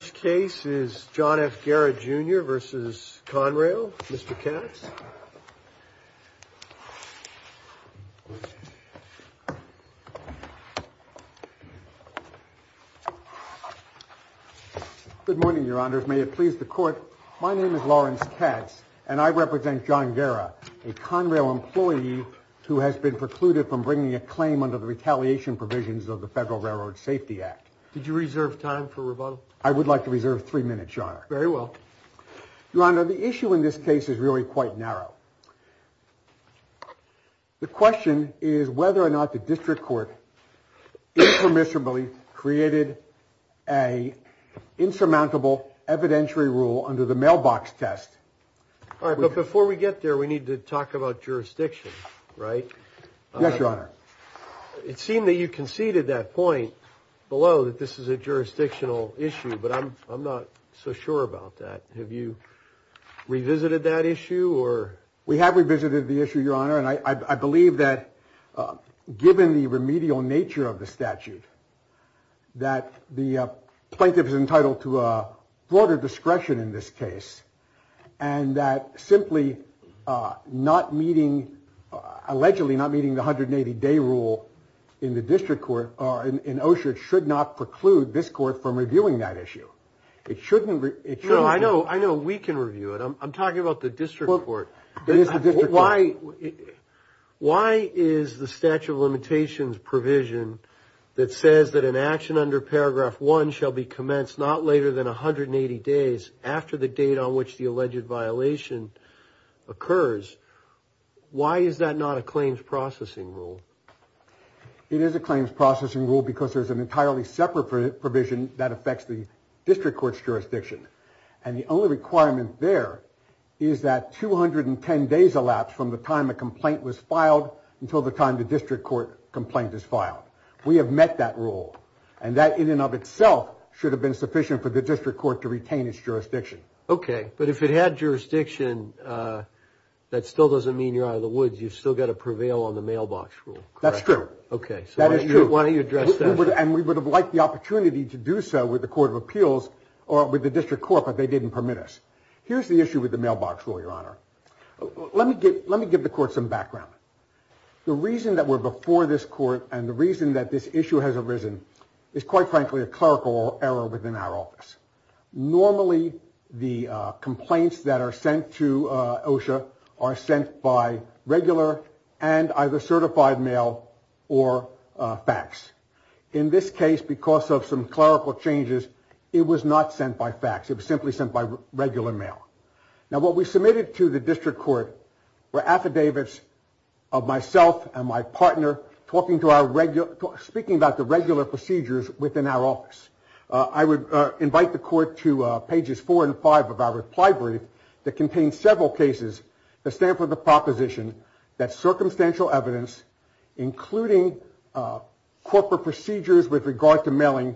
This case is John F. Guerra, Jr. v. Conrail. Mr. Katz? Good morning, Your Honors. May it please the Court? My name is Lawrence Katz, and I represent John Guerra, a Conrail employee who has been precluded from bringing a claim under the retaliation provisions of the Federal Railroad Safety Act. Did you reserve time for rebuttal? I would like to reserve three minutes, Your Honor. Very well. Your Honor, the issue in this case is really quite narrow. The question is whether or not the District Court impermissibly created an insurmountable evidentiary rule under the mailbox test. All right, but before we get there, we need to talk about jurisdiction, right? Yes, Your Honor. It seemed that you conceded that point below, that this is a jurisdictional issue, but I'm not so sure about that. Have you revisited that issue? We have revisited the issue, Your Honor, and I believe that given the remedial nature of the statute, that the plaintiff is entitled to broader discretion in this case, and that simply not meeting, allegedly not meeting the 180-day rule in the District Court, in Oshert, should not preclude this Court from reviewing that issue. It shouldn't. No, I know we can review it. I'm talking about the District Court. It is the District Court. Why is the statute of limitations provision that says that an action under Paragraph 1 shall be commenced not later than 180 days after the date on which the alleged violation occurs, why is that not a claims processing rule? It is a claims processing rule because there's an entirely separate provision that affects the District Court's jurisdiction, and the only requirement there is that 210 days elapse from the time a complaint was filed until the time the District Court complaint is filed. We have met that rule, and that in and of itself should have been sufficient for the District Court to retain its jurisdiction. Okay, but if it had jurisdiction, that still doesn't mean you're out of the woods. You've still got to prevail on the mailbox rule, correct? That's true. Okay, so why don't you address that? And we would have liked the opportunity to do so with the Court of Appeals or with the District Court, but they didn't permit us. Here's the issue with the mailbox rule, Your Honor. Let me give the court some background. The reason that we're before this court and the reason that this issue has arisen is, quite frankly, a clerical error within our office. Normally, the complaints that are sent to OSHA are sent by regular and either certified mail or fax. In this case, because of some clerical changes, it was not sent by fax. It was simply sent by regular mail. Now, what we submitted to the District Court were affidavits of myself and my partner speaking about the regular procedures within our office. I would invite the court to pages four and five of our reply brief that contains several cases that stand for the proposition that circumstantial evidence, including corporate procedures with regard to mailing,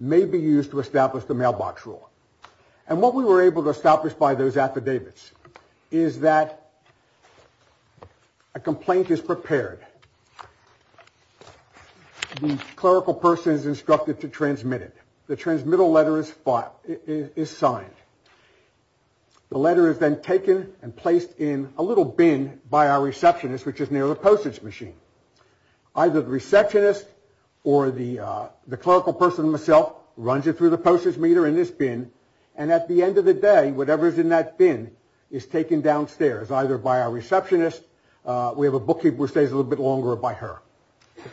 may be used to establish the mailbox rule. And what we were able to establish by those affidavits is that a complaint is prepared. The clerical person is instructed to transmit it. The transmittal letter is signed. The letter is then taken and placed in a little bin by our receptionist, which is near the postage machine. Either the receptionist or the clerical person himself runs it through the postage meter in this bin, and at the end of the day, whatever is in that bin is taken downstairs, either by our receptionist. We have a bookkeeper who stays a little bit longer by her.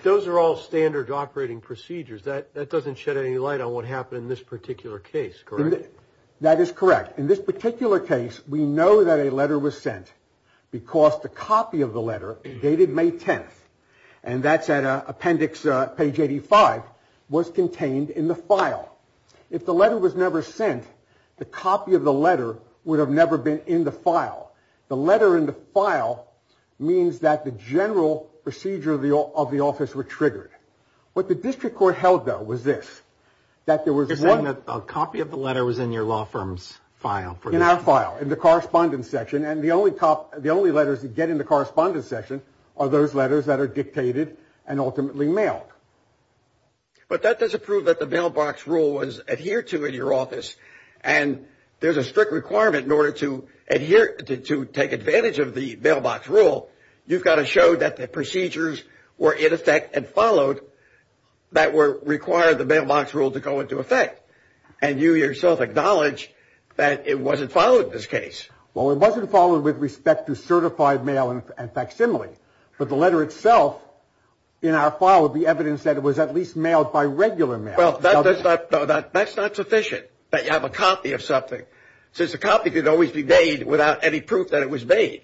Those are all standard operating procedures. That doesn't shed any light on what happened in this particular case, correct? That is correct. In this particular case, we know that a letter was sent because the copy of the letter dated May 10th, and that's at appendix page 85, was contained in the file. If the letter was never sent, the copy of the letter would have never been in the file. The letter in the file means that the general procedure of the office were triggered. What the district court held, though, was this, that there was one. You're saying that a copy of the letter was in your law firm's file. In our file, in the correspondence section, and the only letters that get in the correspondence section are those letters that are dictated and ultimately mailed. But that doesn't prove that the mailbox rule was adhered to in your office, and there's a strict requirement in order to take advantage of the mailbox rule. You've got to show that the procedures were in effect and followed that required the mailbox rule to go into effect, and you yourself acknowledge that it wasn't followed in this case. Well, it wasn't followed with respect to certified mail and facsimile, but the letter itself in our file would be evidence that it was at least mailed by regular mail. Well, that's not sufficient, that you have a copy of something, since a copy could always be made without any proof that it was made.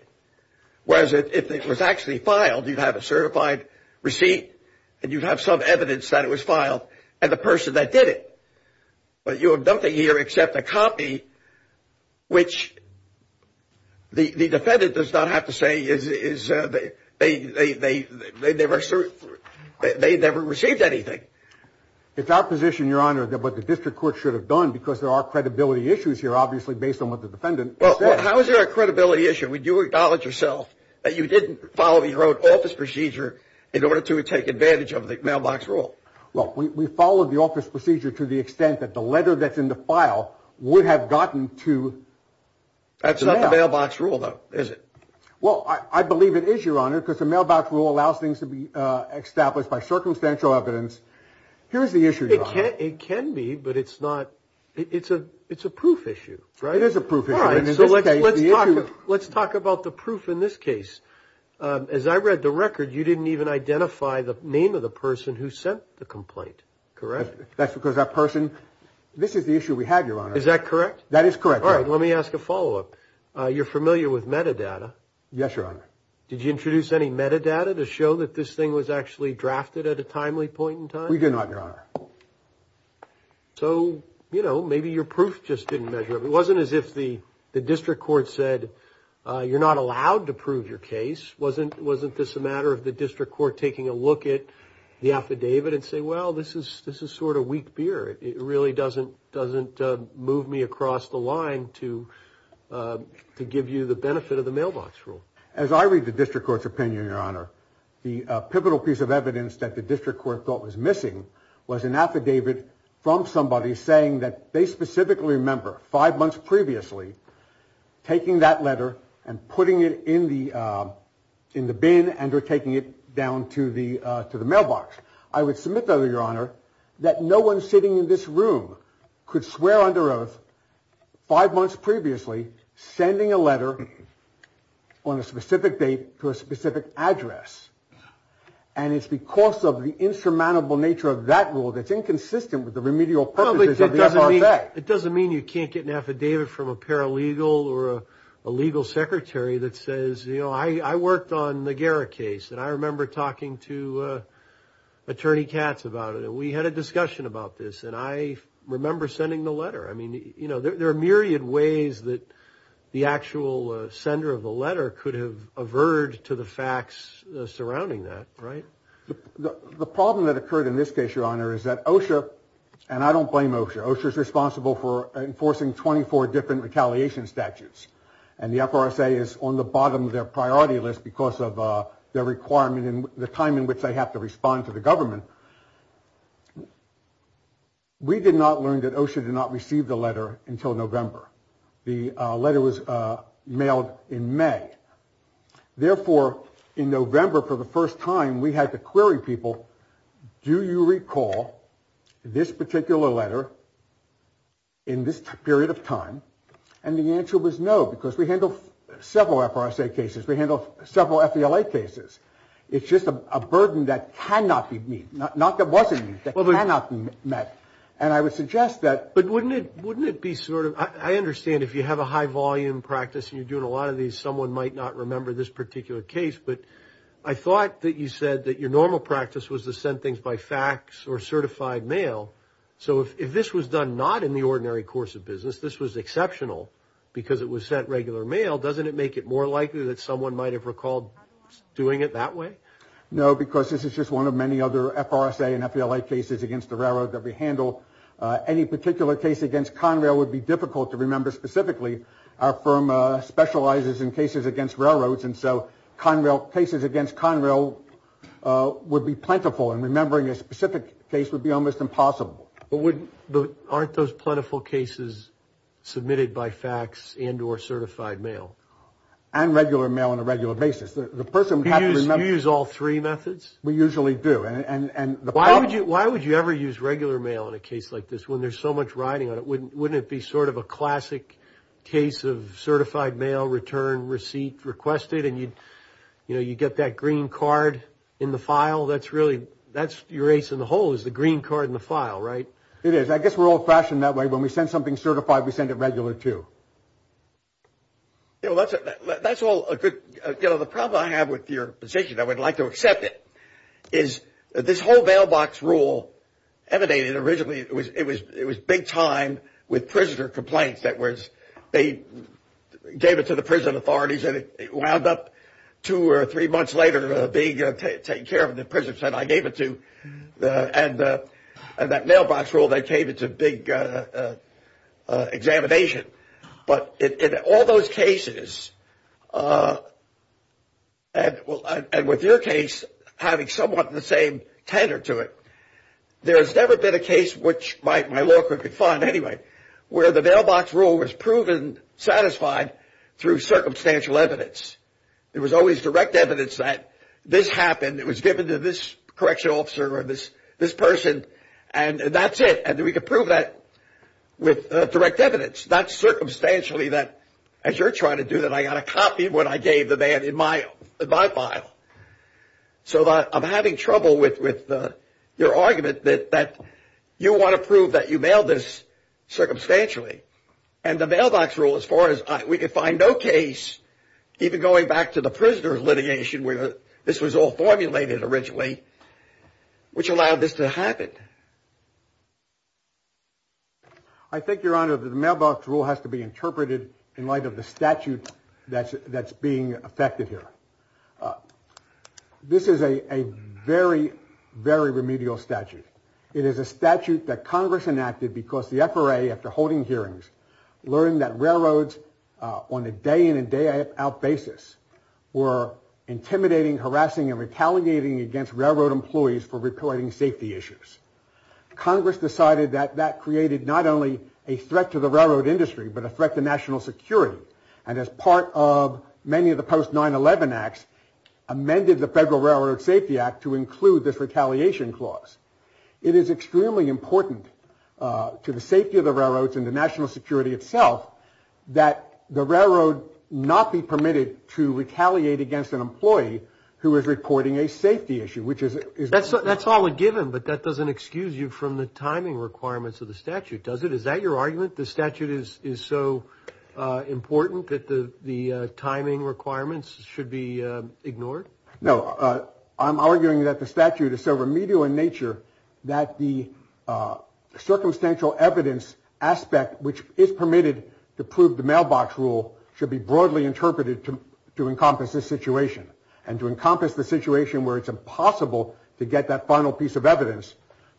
Whereas if it was actually filed, you'd have a certified receipt, and you'd have some evidence that it was filed and the person that did it. But you have nothing here except a copy, which the defendant does not have to say they never received anything. It's our position, Your Honor, that what the district court should have done, because there are credibility issues here, obviously, based on what the defendant said. Well, how is there a credibility issue? Would you acknowledge yourself that you didn't follow your own office procedure in order to take advantage of the mailbox rule? Well, we followed the office procedure to the extent that the letter that's in the file would have gotten to the mailbox. That's not the mailbox rule, though, is it? Well, I believe it is, Your Honor, because the mailbox rule allows things to be established by circumstantial evidence Here's the issue, Your Honor. It can be, but it's not – it's a proof issue, right? It is a proof issue. All right, so let's talk about the proof in this case. As I read the record, you didn't even identify the name of the person who sent the complaint, correct? That's because that person – this is the issue we have, Your Honor. Is that correct? That is correct, Your Honor. All right, let me ask a follow-up. You're familiar with metadata. Yes, Your Honor. Did you introduce any metadata to show that this thing was actually drafted at a timely point in time? We did not, Your Honor. So, you know, maybe your proof just didn't measure up. It wasn't as if the district court said, you're not allowed to prove your case. Wasn't this a matter of the district court taking a look at the affidavit and saying, well, this is sort of weak beer. It really doesn't move me across the line to give you the benefit of the mailbox rule. As I read the district court's opinion, Your Honor, the pivotal piece of evidence that the district court thought was missing was an affidavit from somebody saying that they specifically remember five months previously taking that letter and putting it in the bin and taking it down to the mailbox. I would submit, though, Your Honor, that no one sitting in this room could swear under oath five months previously sending a letter on a specific date to a specific address, and it's because of the insurmountable nature of that rule that's inconsistent with the remedial purposes of the FRFA. It doesn't mean you can't get an affidavit from a paralegal or a legal secretary that says, you know, I worked on the Garra case, and I remember talking to Attorney Katz about it, and we had a discussion about this, and I remember sending the letter. I mean, you know, there are myriad ways that the actual sender of the letter could have averred to the facts surrounding that, right? The problem that occurred in this case, Your Honor, is that OSHA, and I don't blame OSHA. OSHA is responsible for enforcing 24 different retaliation statutes, and the FRSA is on the bottom of their priority list because of their requirement and the time in which they have to respond to the government. We did not learn that OSHA did not receive the letter until November. The letter was mailed in May. Therefore, in November, for the first time, we had to query people, do you recall this particular letter in this period of time? And the answer was no, because we handle several FRSA cases. We handle several FVLA cases. It's just a burden that cannot be met, not that wasn't met, that cannot be met, and I would suggest that. But wouldn't it be sort of, I understand if you have a high-volume practice and you're doing a lot of these, someone might not remember this particular case, but I thought that you said that your normal practice was to send things by fax or certified mail. So if this was done not in the ordinary course of business, this was exceptional because it was sent regular mail, doesn't it make it more likely that someone might have recalled doing it that way? No, because this is just one of many other FRSA and FVLA cases against the railroad that we handle. Any particular case against Conrail would be difficult to remember specifically. Our firm specializes in cases against railroads, and so cases against Conrail would be plentiful, and remembering a specific case would be almost impossible. But aren't those plentiful cases submitted by fax and or certified mail? And regular mail on a regular basis. You use all three methods? We usually do. Why would you ever use regular mail in a case like this when there's so much writing on it? Wouldn't it be sort of a classic case of certified mail, return, receipt, requested, and you get that green card in the file? That's your ace in the hole is the green card in the file, right? It is. I guess we're old-fashioned that way. When we send something certified, we send it regular too. That's all a good – the problem I have with your position, I would like to accept it, is this whole mailbox rule emanated originally – it was big time with prisoner complaints. They gave it to the prison authorities, and it wound up two or three months later being taken care of, and the prison said, I gave it to – and that mailbox rule, they gave it to big examination. But in all those cases, and with your case having somewhat the same tenor to it, there has never been a case, which my law clerk would find anyway, where the mailbox rule was proven satisfied through circumstantial evidence. There was always direct evidence that this happened, it was given to this correctional officer or this person, and that's it, and we could prove that with direct evidence, not circumstantially that, as you're trying to do, that I got a copy of what I gave the man in my file. So I'm having trouble with your argument that you want to prove that you mailed this circumstantially, and the mailbox rule, as far as – we could find no case, even going back to the prisoner litigation, where this was all formulated originally, which allowed this to happen. I think, Your Honor, that the mailbox rule has to be interpreted in light of the statute that's being effected here. This is a very, very remedial statute. It is a statute that Congress enacted because the FRA, after holding hearings, learned that railroads on a day-in and day-out basis were intimidating, harassing, and retaliating against railroad employees for reporting safety issues. Congress decided that that created not only a threat to the railroad industry, but a threat to national security, and as part of many of the post-9-11 acts, amended the Federal Railroad Safety Act to include this retaliation clause. It is extremely important to the safety of the railroads and the national security itself that the railroad not be permitted to retaliate against an employee who is reporting a safety issue, which is – That's all a given, but that doesn't excuse you from the timing requirements of the statute, does it? Is that your argument, the statute is so important that the timing requirements should be ignored? No, I'm arguing that the statute is so remedial in nature that the circumstantial evidence aspect, which is permitted to prove the mailbox rule, should be broadly interpreted to encompass this situation and to encompass the situation where it's impossible to get that final piece of evidence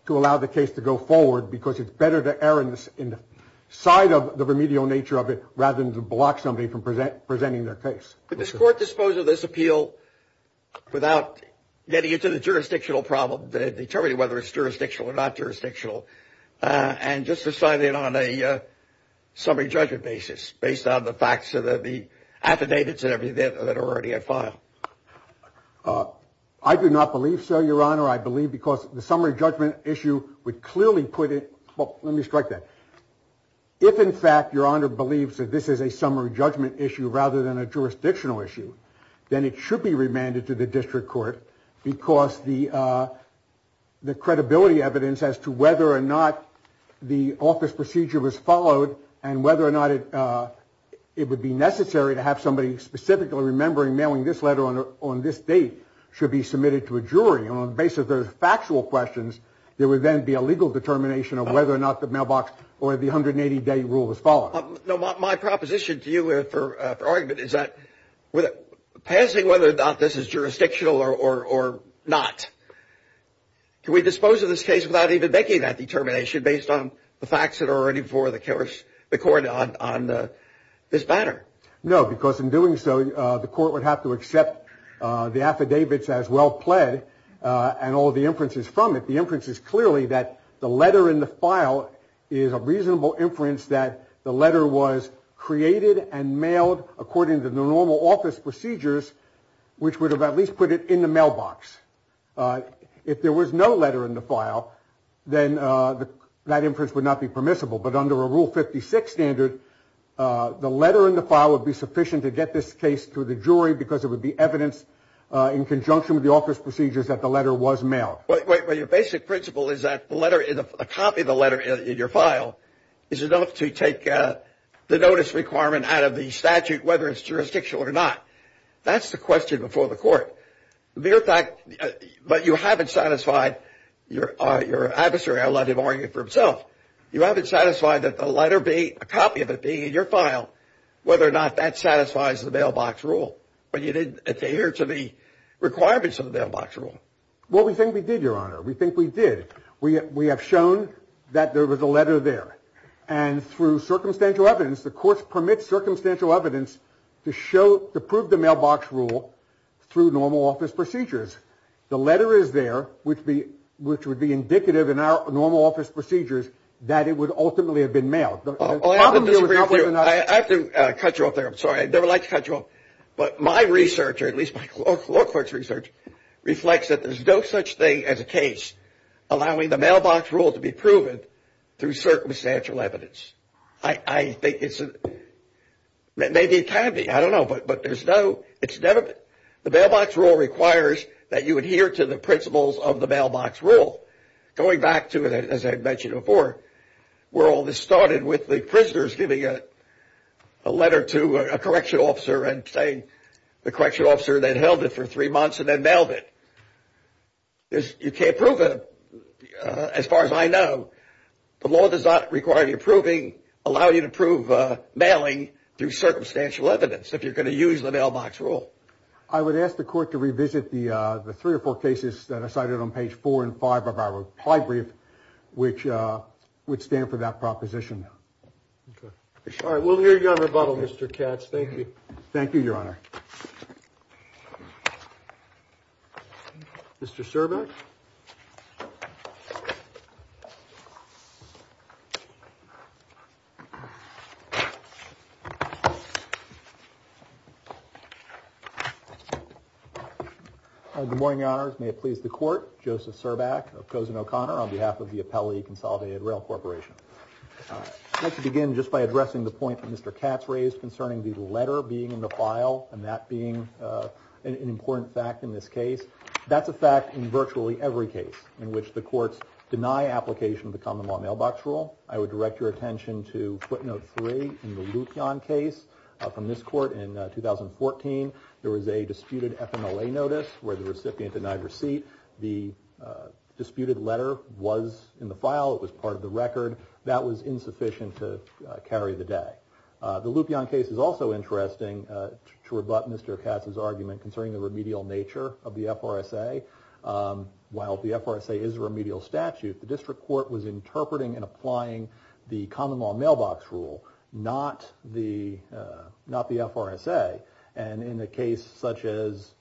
to allow the case to go forward because it's better to err in the side of the remedial nature of it rather than to block somebody from presenting their case. But does court dispose of this appeal without getting into the jurisdictional problem, determining whether it's jurisdictional or not jurisdictional, and just deciding on a summary judgment basis based on the facts of the affidavits that are already in file? I do not believe so, Your Honor. I believe because the summary judgment issue would clearly put it – Well, let me strike that. If, in fact, Your Honor believes that this is a summary judgment issue rather than a jurisdictional issue, then it should be remanded to the district court because the credibility evidence as to whether or not the office procedure was followed and whether or not it would be necessary to have somebody specifically remembering mailing this letter on this date should be submitted to a jury. And on the basis of those factual questions, there would then be a legal determination of whether or not the mailbox or the 180-day rule was followed. My proposition to you for argument is that passing whether or not this is jurisdictional or not, can we dispose of this case without even making that determination based on the facts that are already before the court on this matter? No, because in doing so, the court would have to accept the affidavits as well pled and all the inferences from it. The inference is clearly that the letter in the file is a reasonable inference that the letter was created and mailed according to the normal office procedures, which would have at least put it in the mailbox. If there was no letter in the file, then that inference would not be permissible. But under a Rule 56 standard, the letter in the file would be sufficient to get this case to the jury because it would be evidence in conjunction with the office procedures that the letter was mailed. Well, your basic principle is that a copy of the letter in your file is enough to take the notice requirement out of the statute, whether it's jurisdictional or not. That's the question before the court. But you haven't satisfied your adversary, I'll let him argue for himself. You haven't satisfied that the letter be a copy of it being in your file, whether or not that satisfies the mailbox rule. But you didn't adhere to the requirements of the mailbox rule. Well, we think we did, Your Honor. We think we did. We have shown that there was a letter there. And through circumstantial evidence, the courts permit circumstantial evidence to prove the mailbox rule through normal office procedures. The letter is there, which would be indicative in our normal office procedures that it would ultimately have been mailed. I have to cut you off there. I'm sorry. I'd never like to cut you off. But my research, or at least my law court's research, reflects that there's no such thing as a case allowing the mailbox rule to be proven through circumstantial evidence. I think it's a – maybe it can be. I don't know. But there's no – it's never – the mailbox rule requires that you adhere to the principles of the mailbox rule. Going back to, as I had mentioned before, where all this started with the prisoners giving a letter to a correctional officer and saying the correctional officer then held it for three months and then mailed it. You can't prove it, as far as I know. The law does not require you proving – allow you to prove mailing through circumstantial evidence, if you're going to use the mailbox rule. I would ask the court to revisit the three or four cases that are cited on page four and five of our reply brief, which would stand for that proposition. All right. We'll hear your rebuttal, Mr. Katz. Thank you. Thank you, Your Honor. Thank you, Your Honor. Mr. Cervak. Good morning, Your Honors. May it please the court, Joseph Cervak of Cozen O'Connor on behalf of the Appellee Consolidated Rail Corporation. I'd like to begin just by addressing the point that Mr. Katz raised concerning the letter being in the file and that being an important fact in this case. That's a fact in virtually every case in which the courts deny application of the common law mailbox rule. I would direct your attention to footnote three in the Lupion case from this court in 2014. There was a disputed FMLA notice where the recipient denied receipt. The disputed letter was in the file. It was part of the record. That was insufficient to carry the day. The Lupion case is also interesting to rebut Mr. Katz's argument concerning the remedial nature of the FRSA. While the FRSA is a remedial statute, the district court was interpreting and applying the common law mailbox rule, not the FRSA. And in a case such as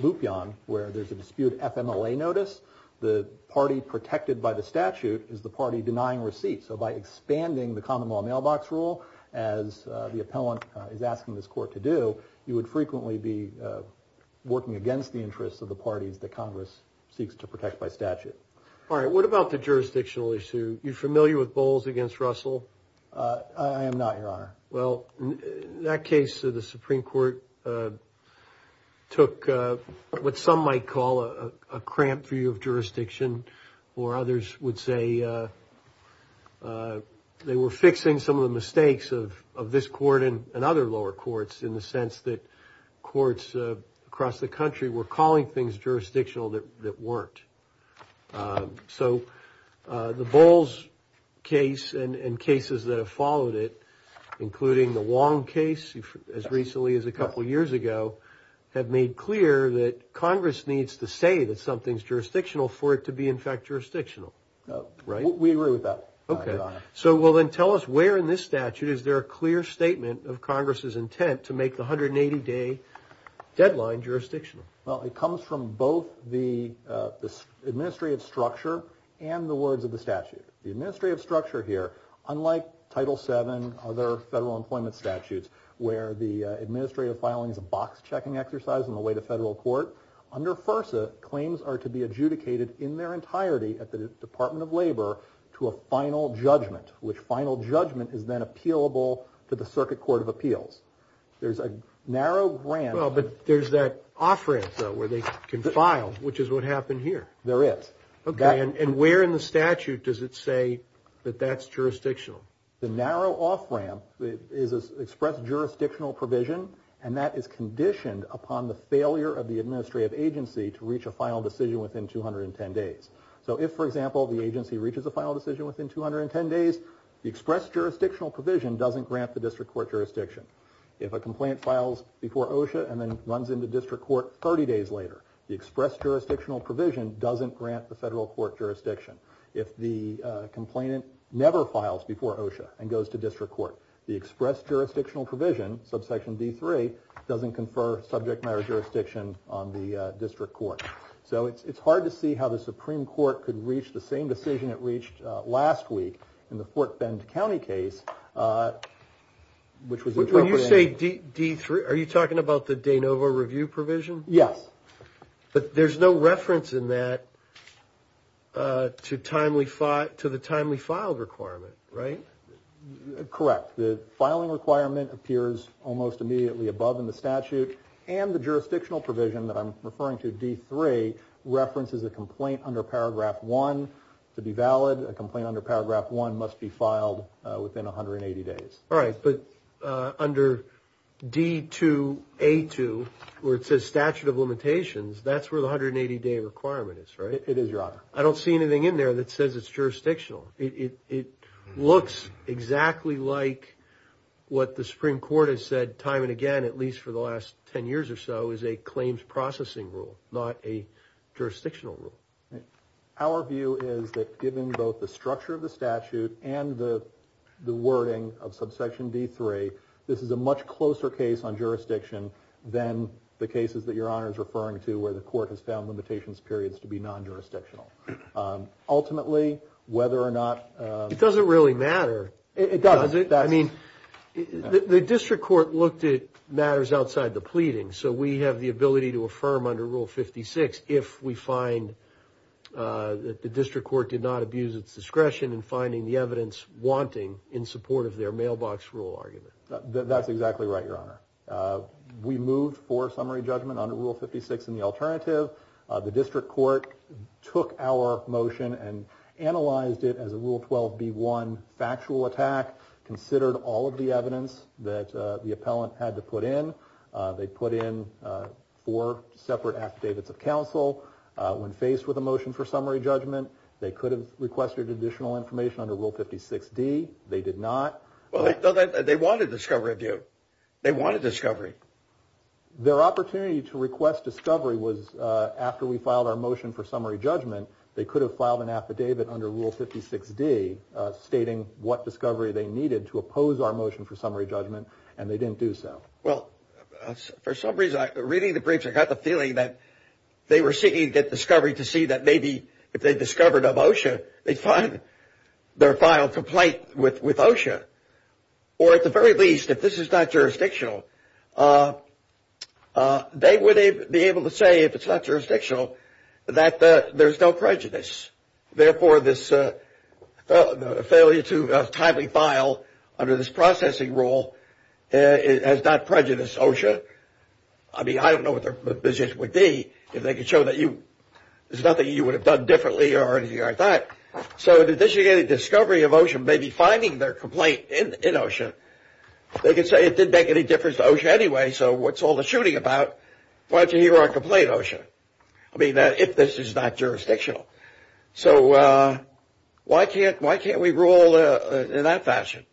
Lupion where there's a disputed FMLA notice, the party protected by the statute is the party denying receipt. So by expanding the common law mailbox rule, as the appellant is asking this court to do, you would frequently be working against the interests of the parties that Congress seeks to protect by statute. All right. What about the jurisdictional issue? You familiar with Bowles against Russell? I am not, Your Honor. Well, in that case, the Supreme Court took what some might call a cramped view of jurisdiction, or others would say they were fixing some of the mistakes of this court and other lower courts in the sense that courts across the country were calling things jurisdictional that weren't. So the Bowles case and cases that have followed it, including the Wong case as recently as a couple years ago, have made clear that Congress needs to say that something's jurisdictional for it to be, in fact, jurisdictional. Right? We agree with that, Your Honor. Okay. So, well, then tell us where in this statute is there a clear statement of Congress's intent to make the 180-day deadline jurisdictional? Well, it comes from both the administrative structure and the words of the statute. The administrative structure here, unlike Title VII, other federal employment statutes, where the administrative filing is a box-checking exercise on the way to federal court, under FERSA, claims are to be adjudicated in their entirety at the Department of Labor to a final judgment, which final judgment is then appealable to the Circuit Court of Appeals. There's a narrow ramp. Well, but there's that off-ramp, though, where they can file, which is what happened here. There is. Okay. And where in the statute does it say that that's jurisdictional? The narrow off-ramp is an express jurisdictional provision, and that is conditioned upon the failure of the administrative agency to reach a final decision within 210 days. So if, for example, the agency reaches a final decision within 210 days, the express jurisdictional provision doesn't grant the district court jurisdiction. If a complainant files before OSHA and then runs into district court 30 days later, the express jurisdictional provision doesn't grant the federal court jurisdiction. If the complainant never files before OSHA and goes to district court, the express jurisdictional provision, subsection D3, doesn't confer subject matter jurisdiction on the district court. So it's hard to see how the Supreme Court could reach the same decision it reached last week in the Fort Bend County case, which was appropriate. When you say D3, are you talking about the de novo review provision? Yes. But there's no reference in that to the timely file requirement, right? Correct. The filing requirement appears almost immediately above in the statute, and the jurisdictional provision that I'm referring to, D3, references a complaint under Paragraph 1 to be valid. A complaint under Paragraph 1 must be filed within 180 days. All right, but under D2A2, where it says statute of limitations, that's where the 180-day requirement is, right? It is, Your Honor. I don't see anything in there that says it's jurisdictional. It looks exactly like what the Supreme Court has said time and again, at least for the last 10 years or so, is a claims processing rule, not a jurisdictional rule. Our view is that given both the structure of the statute and the wording of subsection D3, this is a much closer case on jurisdiction than the cases that Your Honor is referring to where the court has found limitations periods to be non-jurisdictional. Ultimately, whether or not— It doesn't really matter, does it? It doesn't. I mean, the district court looked at matters outside the pleading, so we have the ability to affirm under Rule 56 if we find that the district court did not abuse its discretion in finding the evidence wanting in support of their mailbox rule argument. That's exactly right, Your Honor. We moved for summary judgment under Rule 56 in the alternative. The district court took our motion and analyzed it as a Rule 12b1 factual attack, considered all of the evidence that the appellant had to put in. They put in four separate affidavits of counsel. When faced with a motion for summary judgment, they could have requested additional information under Rule 56d. They did not. Well, they wanted discovery review. They wanted discovery. Their opportunity to request discovery was after we filed our motion for summary judgment. They could have filed an affidavit under Rule 56d stating what discovery they needed to oppose our motion for summary judgment, and they didn't do so. Well, for some reason, reading the briefs, I got the feeling that they were seeking to get discovery to see that maybe if they discovered a motion, they'd find their file complaint with OSHA. Or at the very least, if this is not jurisdictional, they would be able to say if it's not jurisdictional that there's no prejudice. Therefore, this failure to timely file under this processing rule has not prejudiced OSHA. I mean, I don't know what their position would be. If they could show that there's nothing you would have done differently or anything like that. So in addition to getting discovery of OSHA, maybe finding their complaint in OSHA, they could say it didn't make any difference to OSHA anyway, so what's all the shooting about? Why don't you hear our complaint, OSHA? I mean, if this is not jurisdictional. So why can't we rule in that fashion?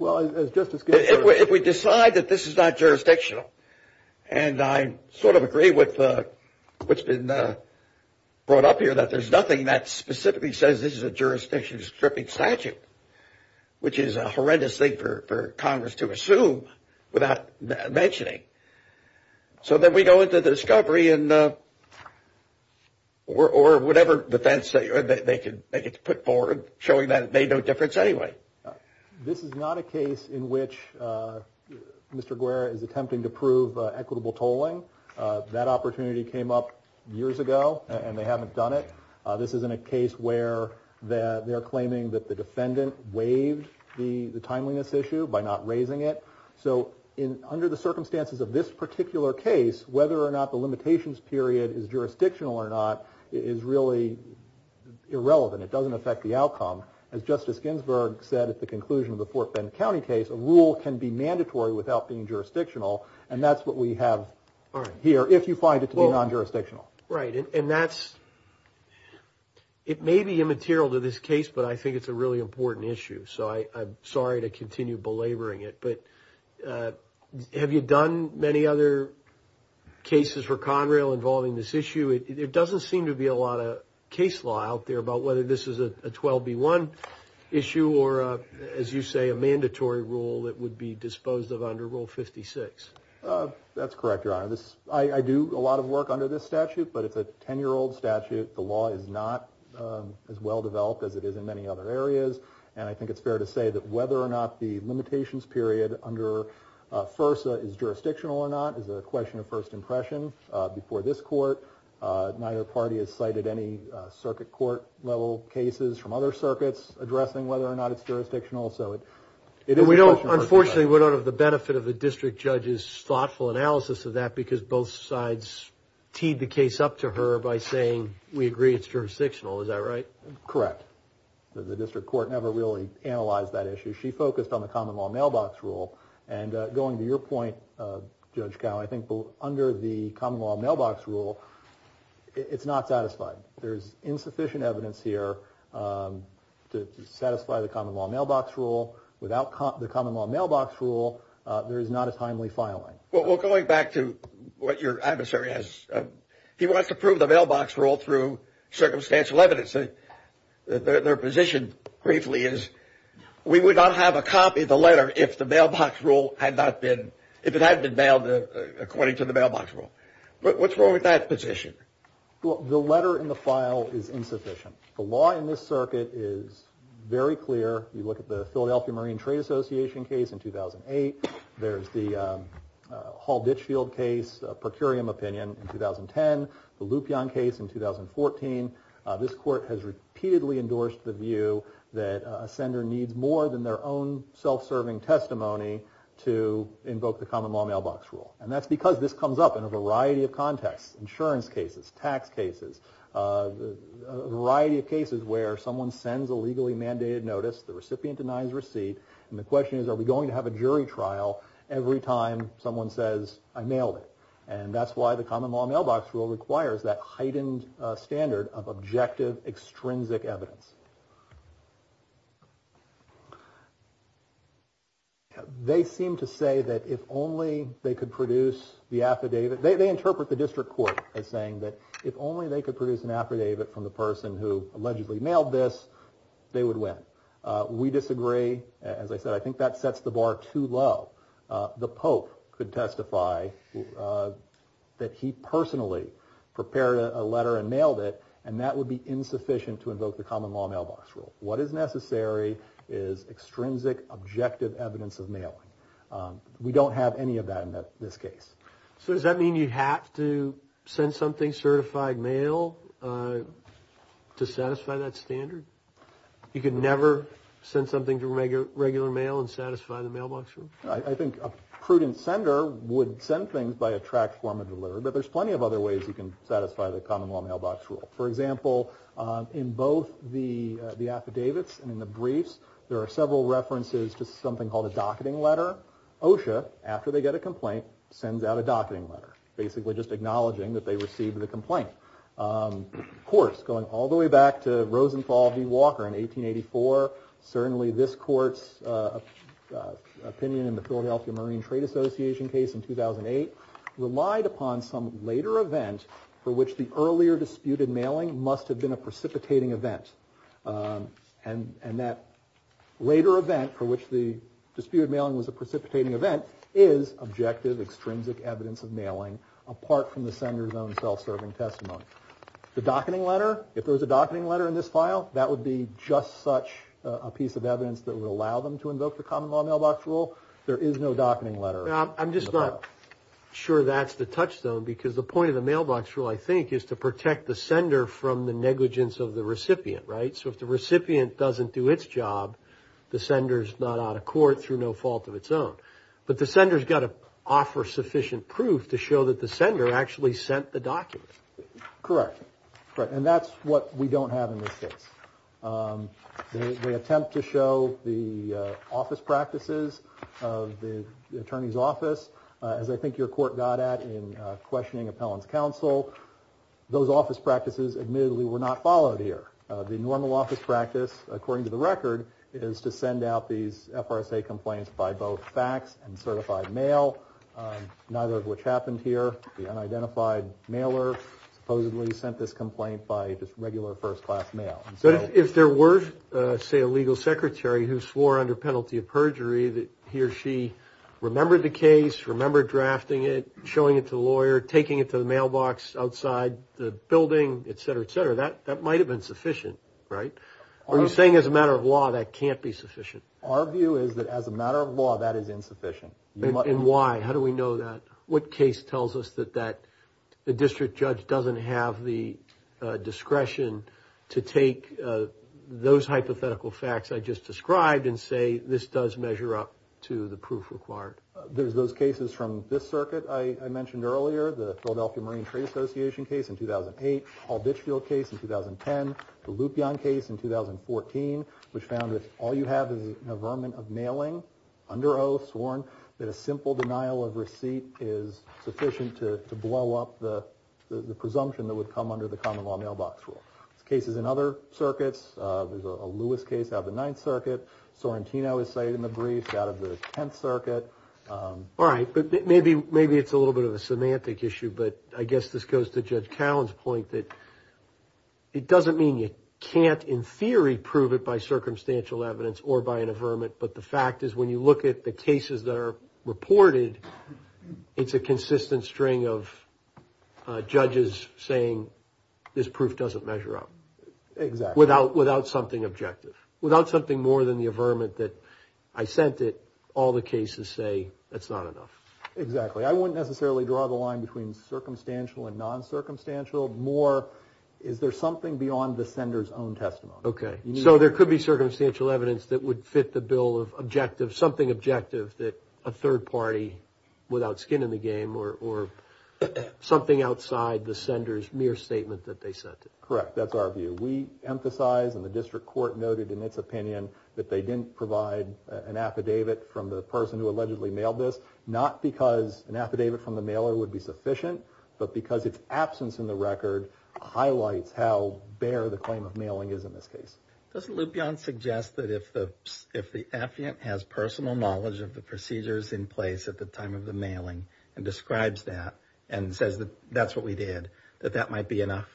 If we decide that this is not jurisdictional, and I sort of agree with what's been brought up here, that there's nothing that specifically says this is a jurisdiction stripping statute, which is a horrendous thing for Congress to assume without mentioning. So then we go into the discovery or whatever defense they could put forward showing that it made no difference anyway. This is not a case in which Mr. Guerra is attempting to prove equitable tolling. That opportunity came up years ago, and they haven't done it. This isn't a case where they're claiming that the defendant waived the timeliness issue by not raising it. So under the circumstances of this particular case, whether or not the limitations period is jurisdictional or not is really irrelevant. It doesn't affect the outcome. As Justice Ginsburg said at the conclusion of the Fort Bend County case, a rule can be mandatory without being jurisdictional, and that's what we have here if you find it to be non-jurisdictional. Right, and that's – it may be immaterial to this case, but I think it's a really important issue. So I'm sorry to continue belaboring it, but have you done many other cases for Conrail involving this issue? There doesn't seem to be a lot of case law out there about whether this is a 12-B-1 issue or, as you say, a mandatory rule that would be disposed of under Rule 56. That's correct, Your Honor. I do a lot of work under this statute, but it's a 10-year-old statute. The law is not as well-developed as it is in many other areas, and I think it's fair to say that whether or not the limitations period under FERSA is jurisdictional or not is a question of first impression. Before this court, neither party has cited any circuit court-level cases from other circuits addressing whether or not it's jurisdictional, so it is a question of first impression. Unfortunately, we don't have the benefit of a district judge's thoughtful analysis of that because both sides teed the case up to her by saying, we agree it's jurisdictional. Is that right? Correct. The district court never really analyzed that issue. She focused on the common law mailbox rule, and going to your point, Judge Cowen, I think under the common law mailbox rule, it's not satisfied. There is insufficient evidence here to satisfy the common law mailbox rule. Without the common law mailbox rule, there is not a timely filing. Well, going back to what your adversary has, he wants to prove the mailbox rule through circumstantial evidence. Their position, briefly, is we would not have a copy of the letter if it hadn't been mailed according to the mailbox rule. What's wrong with that position? The letter in the file is insufficient. The law in this circuit is very clear. You look at the Philadelphia Marine Trade Association case in 2008. There's the Hall-Ditchfield case, a per curiam opinion, in 2010. The Lupion case in 2014. This court has repeatedly endorsed the view that a sender needs more than their own self-serving testimony to invoke the common law mailbox rule. And that's because this comes up in a variety of contexts, insurance cases, tax cases, a variety of cases where someone sends a legally mandated notice, the recipient denies receipt, and the question is are we going to have a jury trial every time someone says, I mailed it. And that's why the common law mailbox rule requires that heightened standard of objective, extrinsic evidence. They seem to say that if only they could produce the affidavit. They interpret the district court as saying that if only they could produce an affidavit from the person who allegedly mailed this, they would win. We disagree. As I said, I think that sets the bar too low. The Pope could testify that he personally prepared a letter and mailed it, and that would be insufficient to invoke the common law mailbox rule. What is necessary is extrinsic, objective evidence of mailing. We don't have any of that in this case. So does that mean you have to send something certified mail to satisfy that standard? You could never send something through regular mail and satisfy the mailbox rule? I think a prudent sender would send things by a tracked form of delivery, but there's plenty of other ways you can satisfy the common law mailbox rule. For example, in both the affidavits and in the briefs, there are several references to something called a docketing letter. OSHA, after they get a complaint, sends out a docketing letter, basically just acknowledging that they received the complaint. Of course, going all the way back to Rosenthal v. Walker in 1884, certainly this court's opinion in the Philadelphia Marine Trade Association case in 2008 relied upon some later event for which the earlier disputed mailing must have been a precipitating event. And that later event for which the disputed mailing was a precipitating event is objective, extrinsic evidence of mailing apart from the sender's own self-serving testimony. The docketing letter, if there's a docketing letter in this file, that would be just such a piece of evidence that would allow them to invoke the common law mailbox rule. There is no docketing letter. I'm just not sure that's the touchstone because the point of the mailbox rule, I think, is to protect the sender from the negligence of the recipient, right? So if the recipient doesn't do its job, the sender's not out of court through no fault of its own. But the sender's got to offer sufficient proof to show that the sender actually sent the document. Correct. And that's what we don't have in this case. They attempt to show the office practices of the attorney's office, as I think your court got at in questioning appellant's counsel. Those office practices admittedly were not followed here. The normal office practice, according to the record, is to send out these FRSA complaints by both fax and certified mail, neither of which happened here. The unidentified mailer supposedly sent this complaint by just regular first-class mail. So if there were, say, a legal secretary who swore under penalty of perjury that he or she remembered the case, remembered drafting it, showing it to the lawyer, taking it to the mailbox outside the building, et cetera, et cetera, that might have been sufficient, right? Are you saying as a matter of law that can't be sufficient? Our view is that as a matter of law, that is insufficient. And why? How do we know that? What case tells us that the district judge doesn't have the discretion to take those hypothetical facts I just described and say this does measure up to the proof required? There's those cases from this circuit I mentioned earlier, the Philadelphia Marine Trade Association case in 2008, the Hall-Bitchfield case in 2010, the Lupion case in 2014, which found that all you have is an averment of mailing under oath sworn, that a simple denial of receipt is sufficient to blow up the presumption that would come under the common law mailbox rule. There's cases in other circuits. There's a Lewis case out of the Ninth Circuit. Sorrentino is cited in the brief out of the Tenth Circuit. All right, but maybe it's a little bit of a semantic issue, but I guess this goes to Judge Callen's point that it doesn't mean you can't, in theory, prove it by circumstantial evidence or by an averment, but the fact is when you look at the cases that are reported, it's a consistent string of judges saying this proof doesn't measure up. Exactly. Without something objective. I sent it, all the cases say it's not enough. Exactly. I wouldn't necessarily draw the line between circumstantial and non-circumstantial. More, is there something beyond the sender's own testimony? Okay. So there could be circumstantial evidence that would fit the bill of objective, something objective that a third party, without skin in the game, or something outside the sender's mere statement that they sent it. Correct. That's our view. We emphasize, and the district court noted in its opinion, that they didn't provide an affidavit from the person who allegedly mailed this, not because an affidavit from the mailer would be sufficient, but because its absence in the record highlights how bare the claim of mailing is in this case. Doesn't Lupion suggest that if the affiant has personal knowledge of the procedures in place at the time of the mailing and describes that and says that that's what we did, that that might be enough?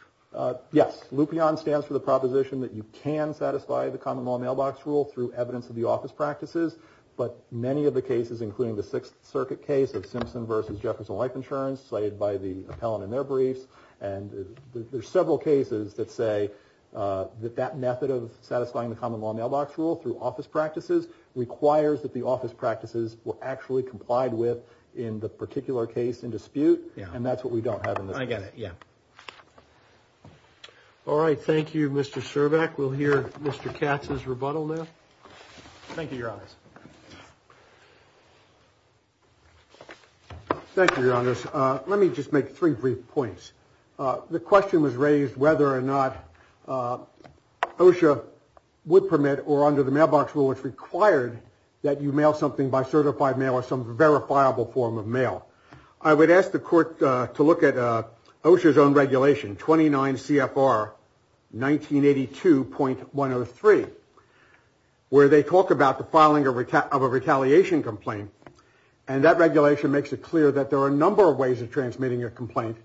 Yes. Lupion stands for the proposition that you can satisfy the common law mailbox rule through evidence of the office practices, but many of the cases, including the Sixth Circuit case of Simpson v. Jefferson Life Insurance, cited by the appellant in their briefs, and there's several cases that say that that method of satisfying the common law mailbox rule through office practices requires that the office practices were actually complied with in the particular case in dispute, and that's what we don't have in this case. I get it, yeah. All right, thank you, Mr. Cervak. We'll hear Mr. Katz's rebuttal now. Thank you, Your Honors. Thank you, Your Honors. Let me just make three brief points. The question was raised whether or not OSHA would permit or under the mailbox rule, I would ask the court to look at OSHA's own regulation, 29 CFR 1982.103, where they talk about the filing of a retaliation complaint, and that regulation makes it clear that there are a number of ways of transmitting a complaint.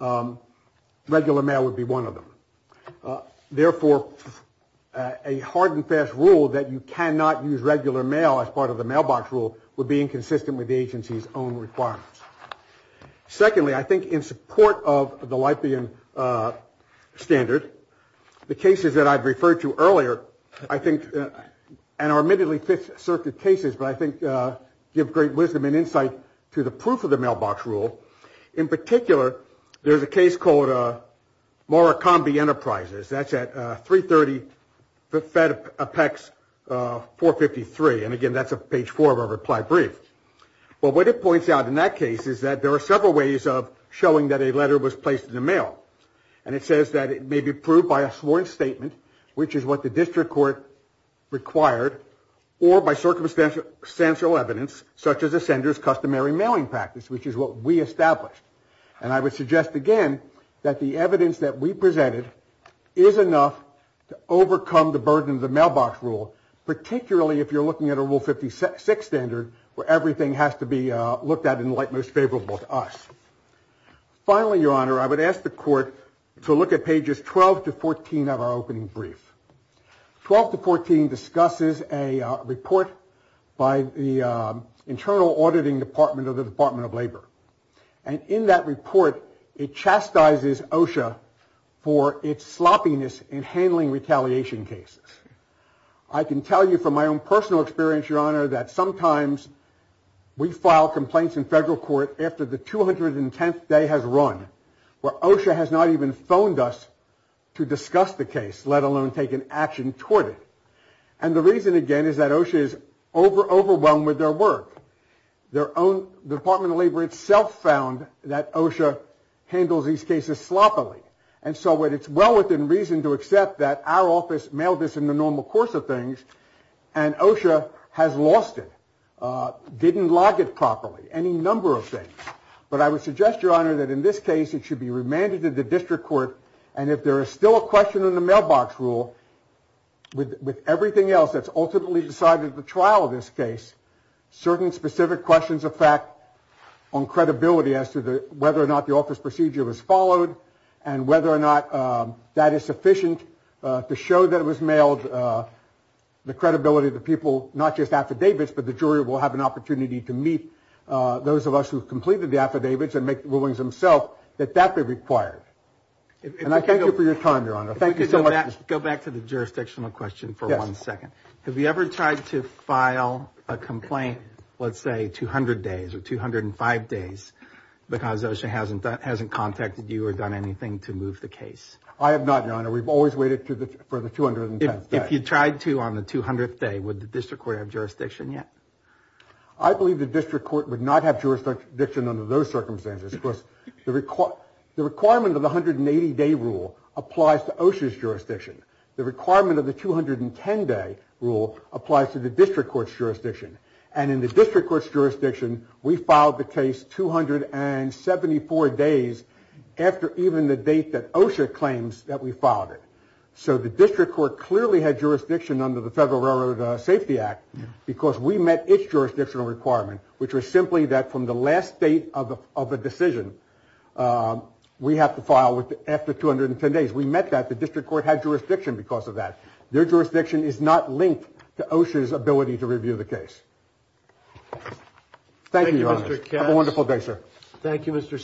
Regular mail would be one of them. Therefore, a hard and fast rule that you cannot use regular mail as part of the mailbox rule would be inconsistent with the agency's own requirements. Secondly, I think in support of the Leibniz standard, the cases that I've referred to earlier, I think, and are admittedly Fifth Circuit cases, but I think give great wisdom and insight to the proof of the mailbox rule. In particular, there's a case called Morakombe Enterprises. That's at 330 Fed Apex 453. And, again, that's page four of our reply brief. But what it points out in that case is that there are several ways of showing that a letter was placed in the mail. And it says that it may be proved by a sworn statement, which is what the district court required, or by circumstantial evidence, such as a sender's customary mailing practice, which is what we established. And I would suggest, again, that the evidence that we presented is enough to overcome the burden of the mailbox rule, particularly if you're looking at a rule 56 standard where everything has to be looked at in the light most favorable to us. Finally, Your Honor, I would ask the court to look at pages 12 to 14 of our opening brief. 12 to 14 discusses a report by the internal auditing department of the Department of Labor. And in that report, it chastises OSHA for its sloppiness in handling retaliation cases. I can tell you from my own personal experience, Your Honor, that sometimes we file complaints in federal court after the 210th day has run, where OSHA has not even phoned us to discuss the case, let alone take an action toward it. And the reason, again, is that OSHA is overwhelmed with their work. Their own Department of Labor itself found that OSHA handles these cases sloppily. And so it's well within reason to accept that our office mailed this in the normal course of things and OSHA has lost it, didn't log it properly, any number of things. But I would suggest, Your Honor, that in this case, it should be remanded to the district court. And if there is still a question on the mailbox rule with everything else that's ultimately decided at the trial of this case, certain specific questions affect on credibility as to whether or not the office procedure was followed and whether or not that is sufficient to show that it was mailed, the credibility of the people, not just affidavits, but the jury will have an opportunity to meet those of us who completed the affidavits and make the rulings themselves that that be required. And I thank you for your time, Your Honor. Thank you so much. Go back to the jurisdictional question for one second. Have you ever tried to file a complaint, let's say 200 days or 205 days, because OSHA hasn't contacted you or done anything to move the case? I have not, Your Honor. We've always waited for the 210th day. If you tried to on the 200th day, would the district court have jurisdiction yet? I believe the district court would not have jurisdiction under those circumstances. Of course, the requirement of the 180-day rule applies to OSHA's jurisdiction. The requirement of the 210-day rule applies to the district court's jurisdiction. And in the district court's jurisdiction, we filed the case 274 days after even the date that OSHA claims that we filed it. So the district court clearly had jurisdiction under the Federal Railroad Safety Act because we met its jurisdictional requirement, which was simply that from the last date of a decision, we have to file after 210 days. We met that. The district court had jurisdiction because of that. Their jurisdiction is not linked to OSHA's ability to review the case. Thank you, Your Honor. Thank you, Mr. Katz. Have a wonderful day, sir.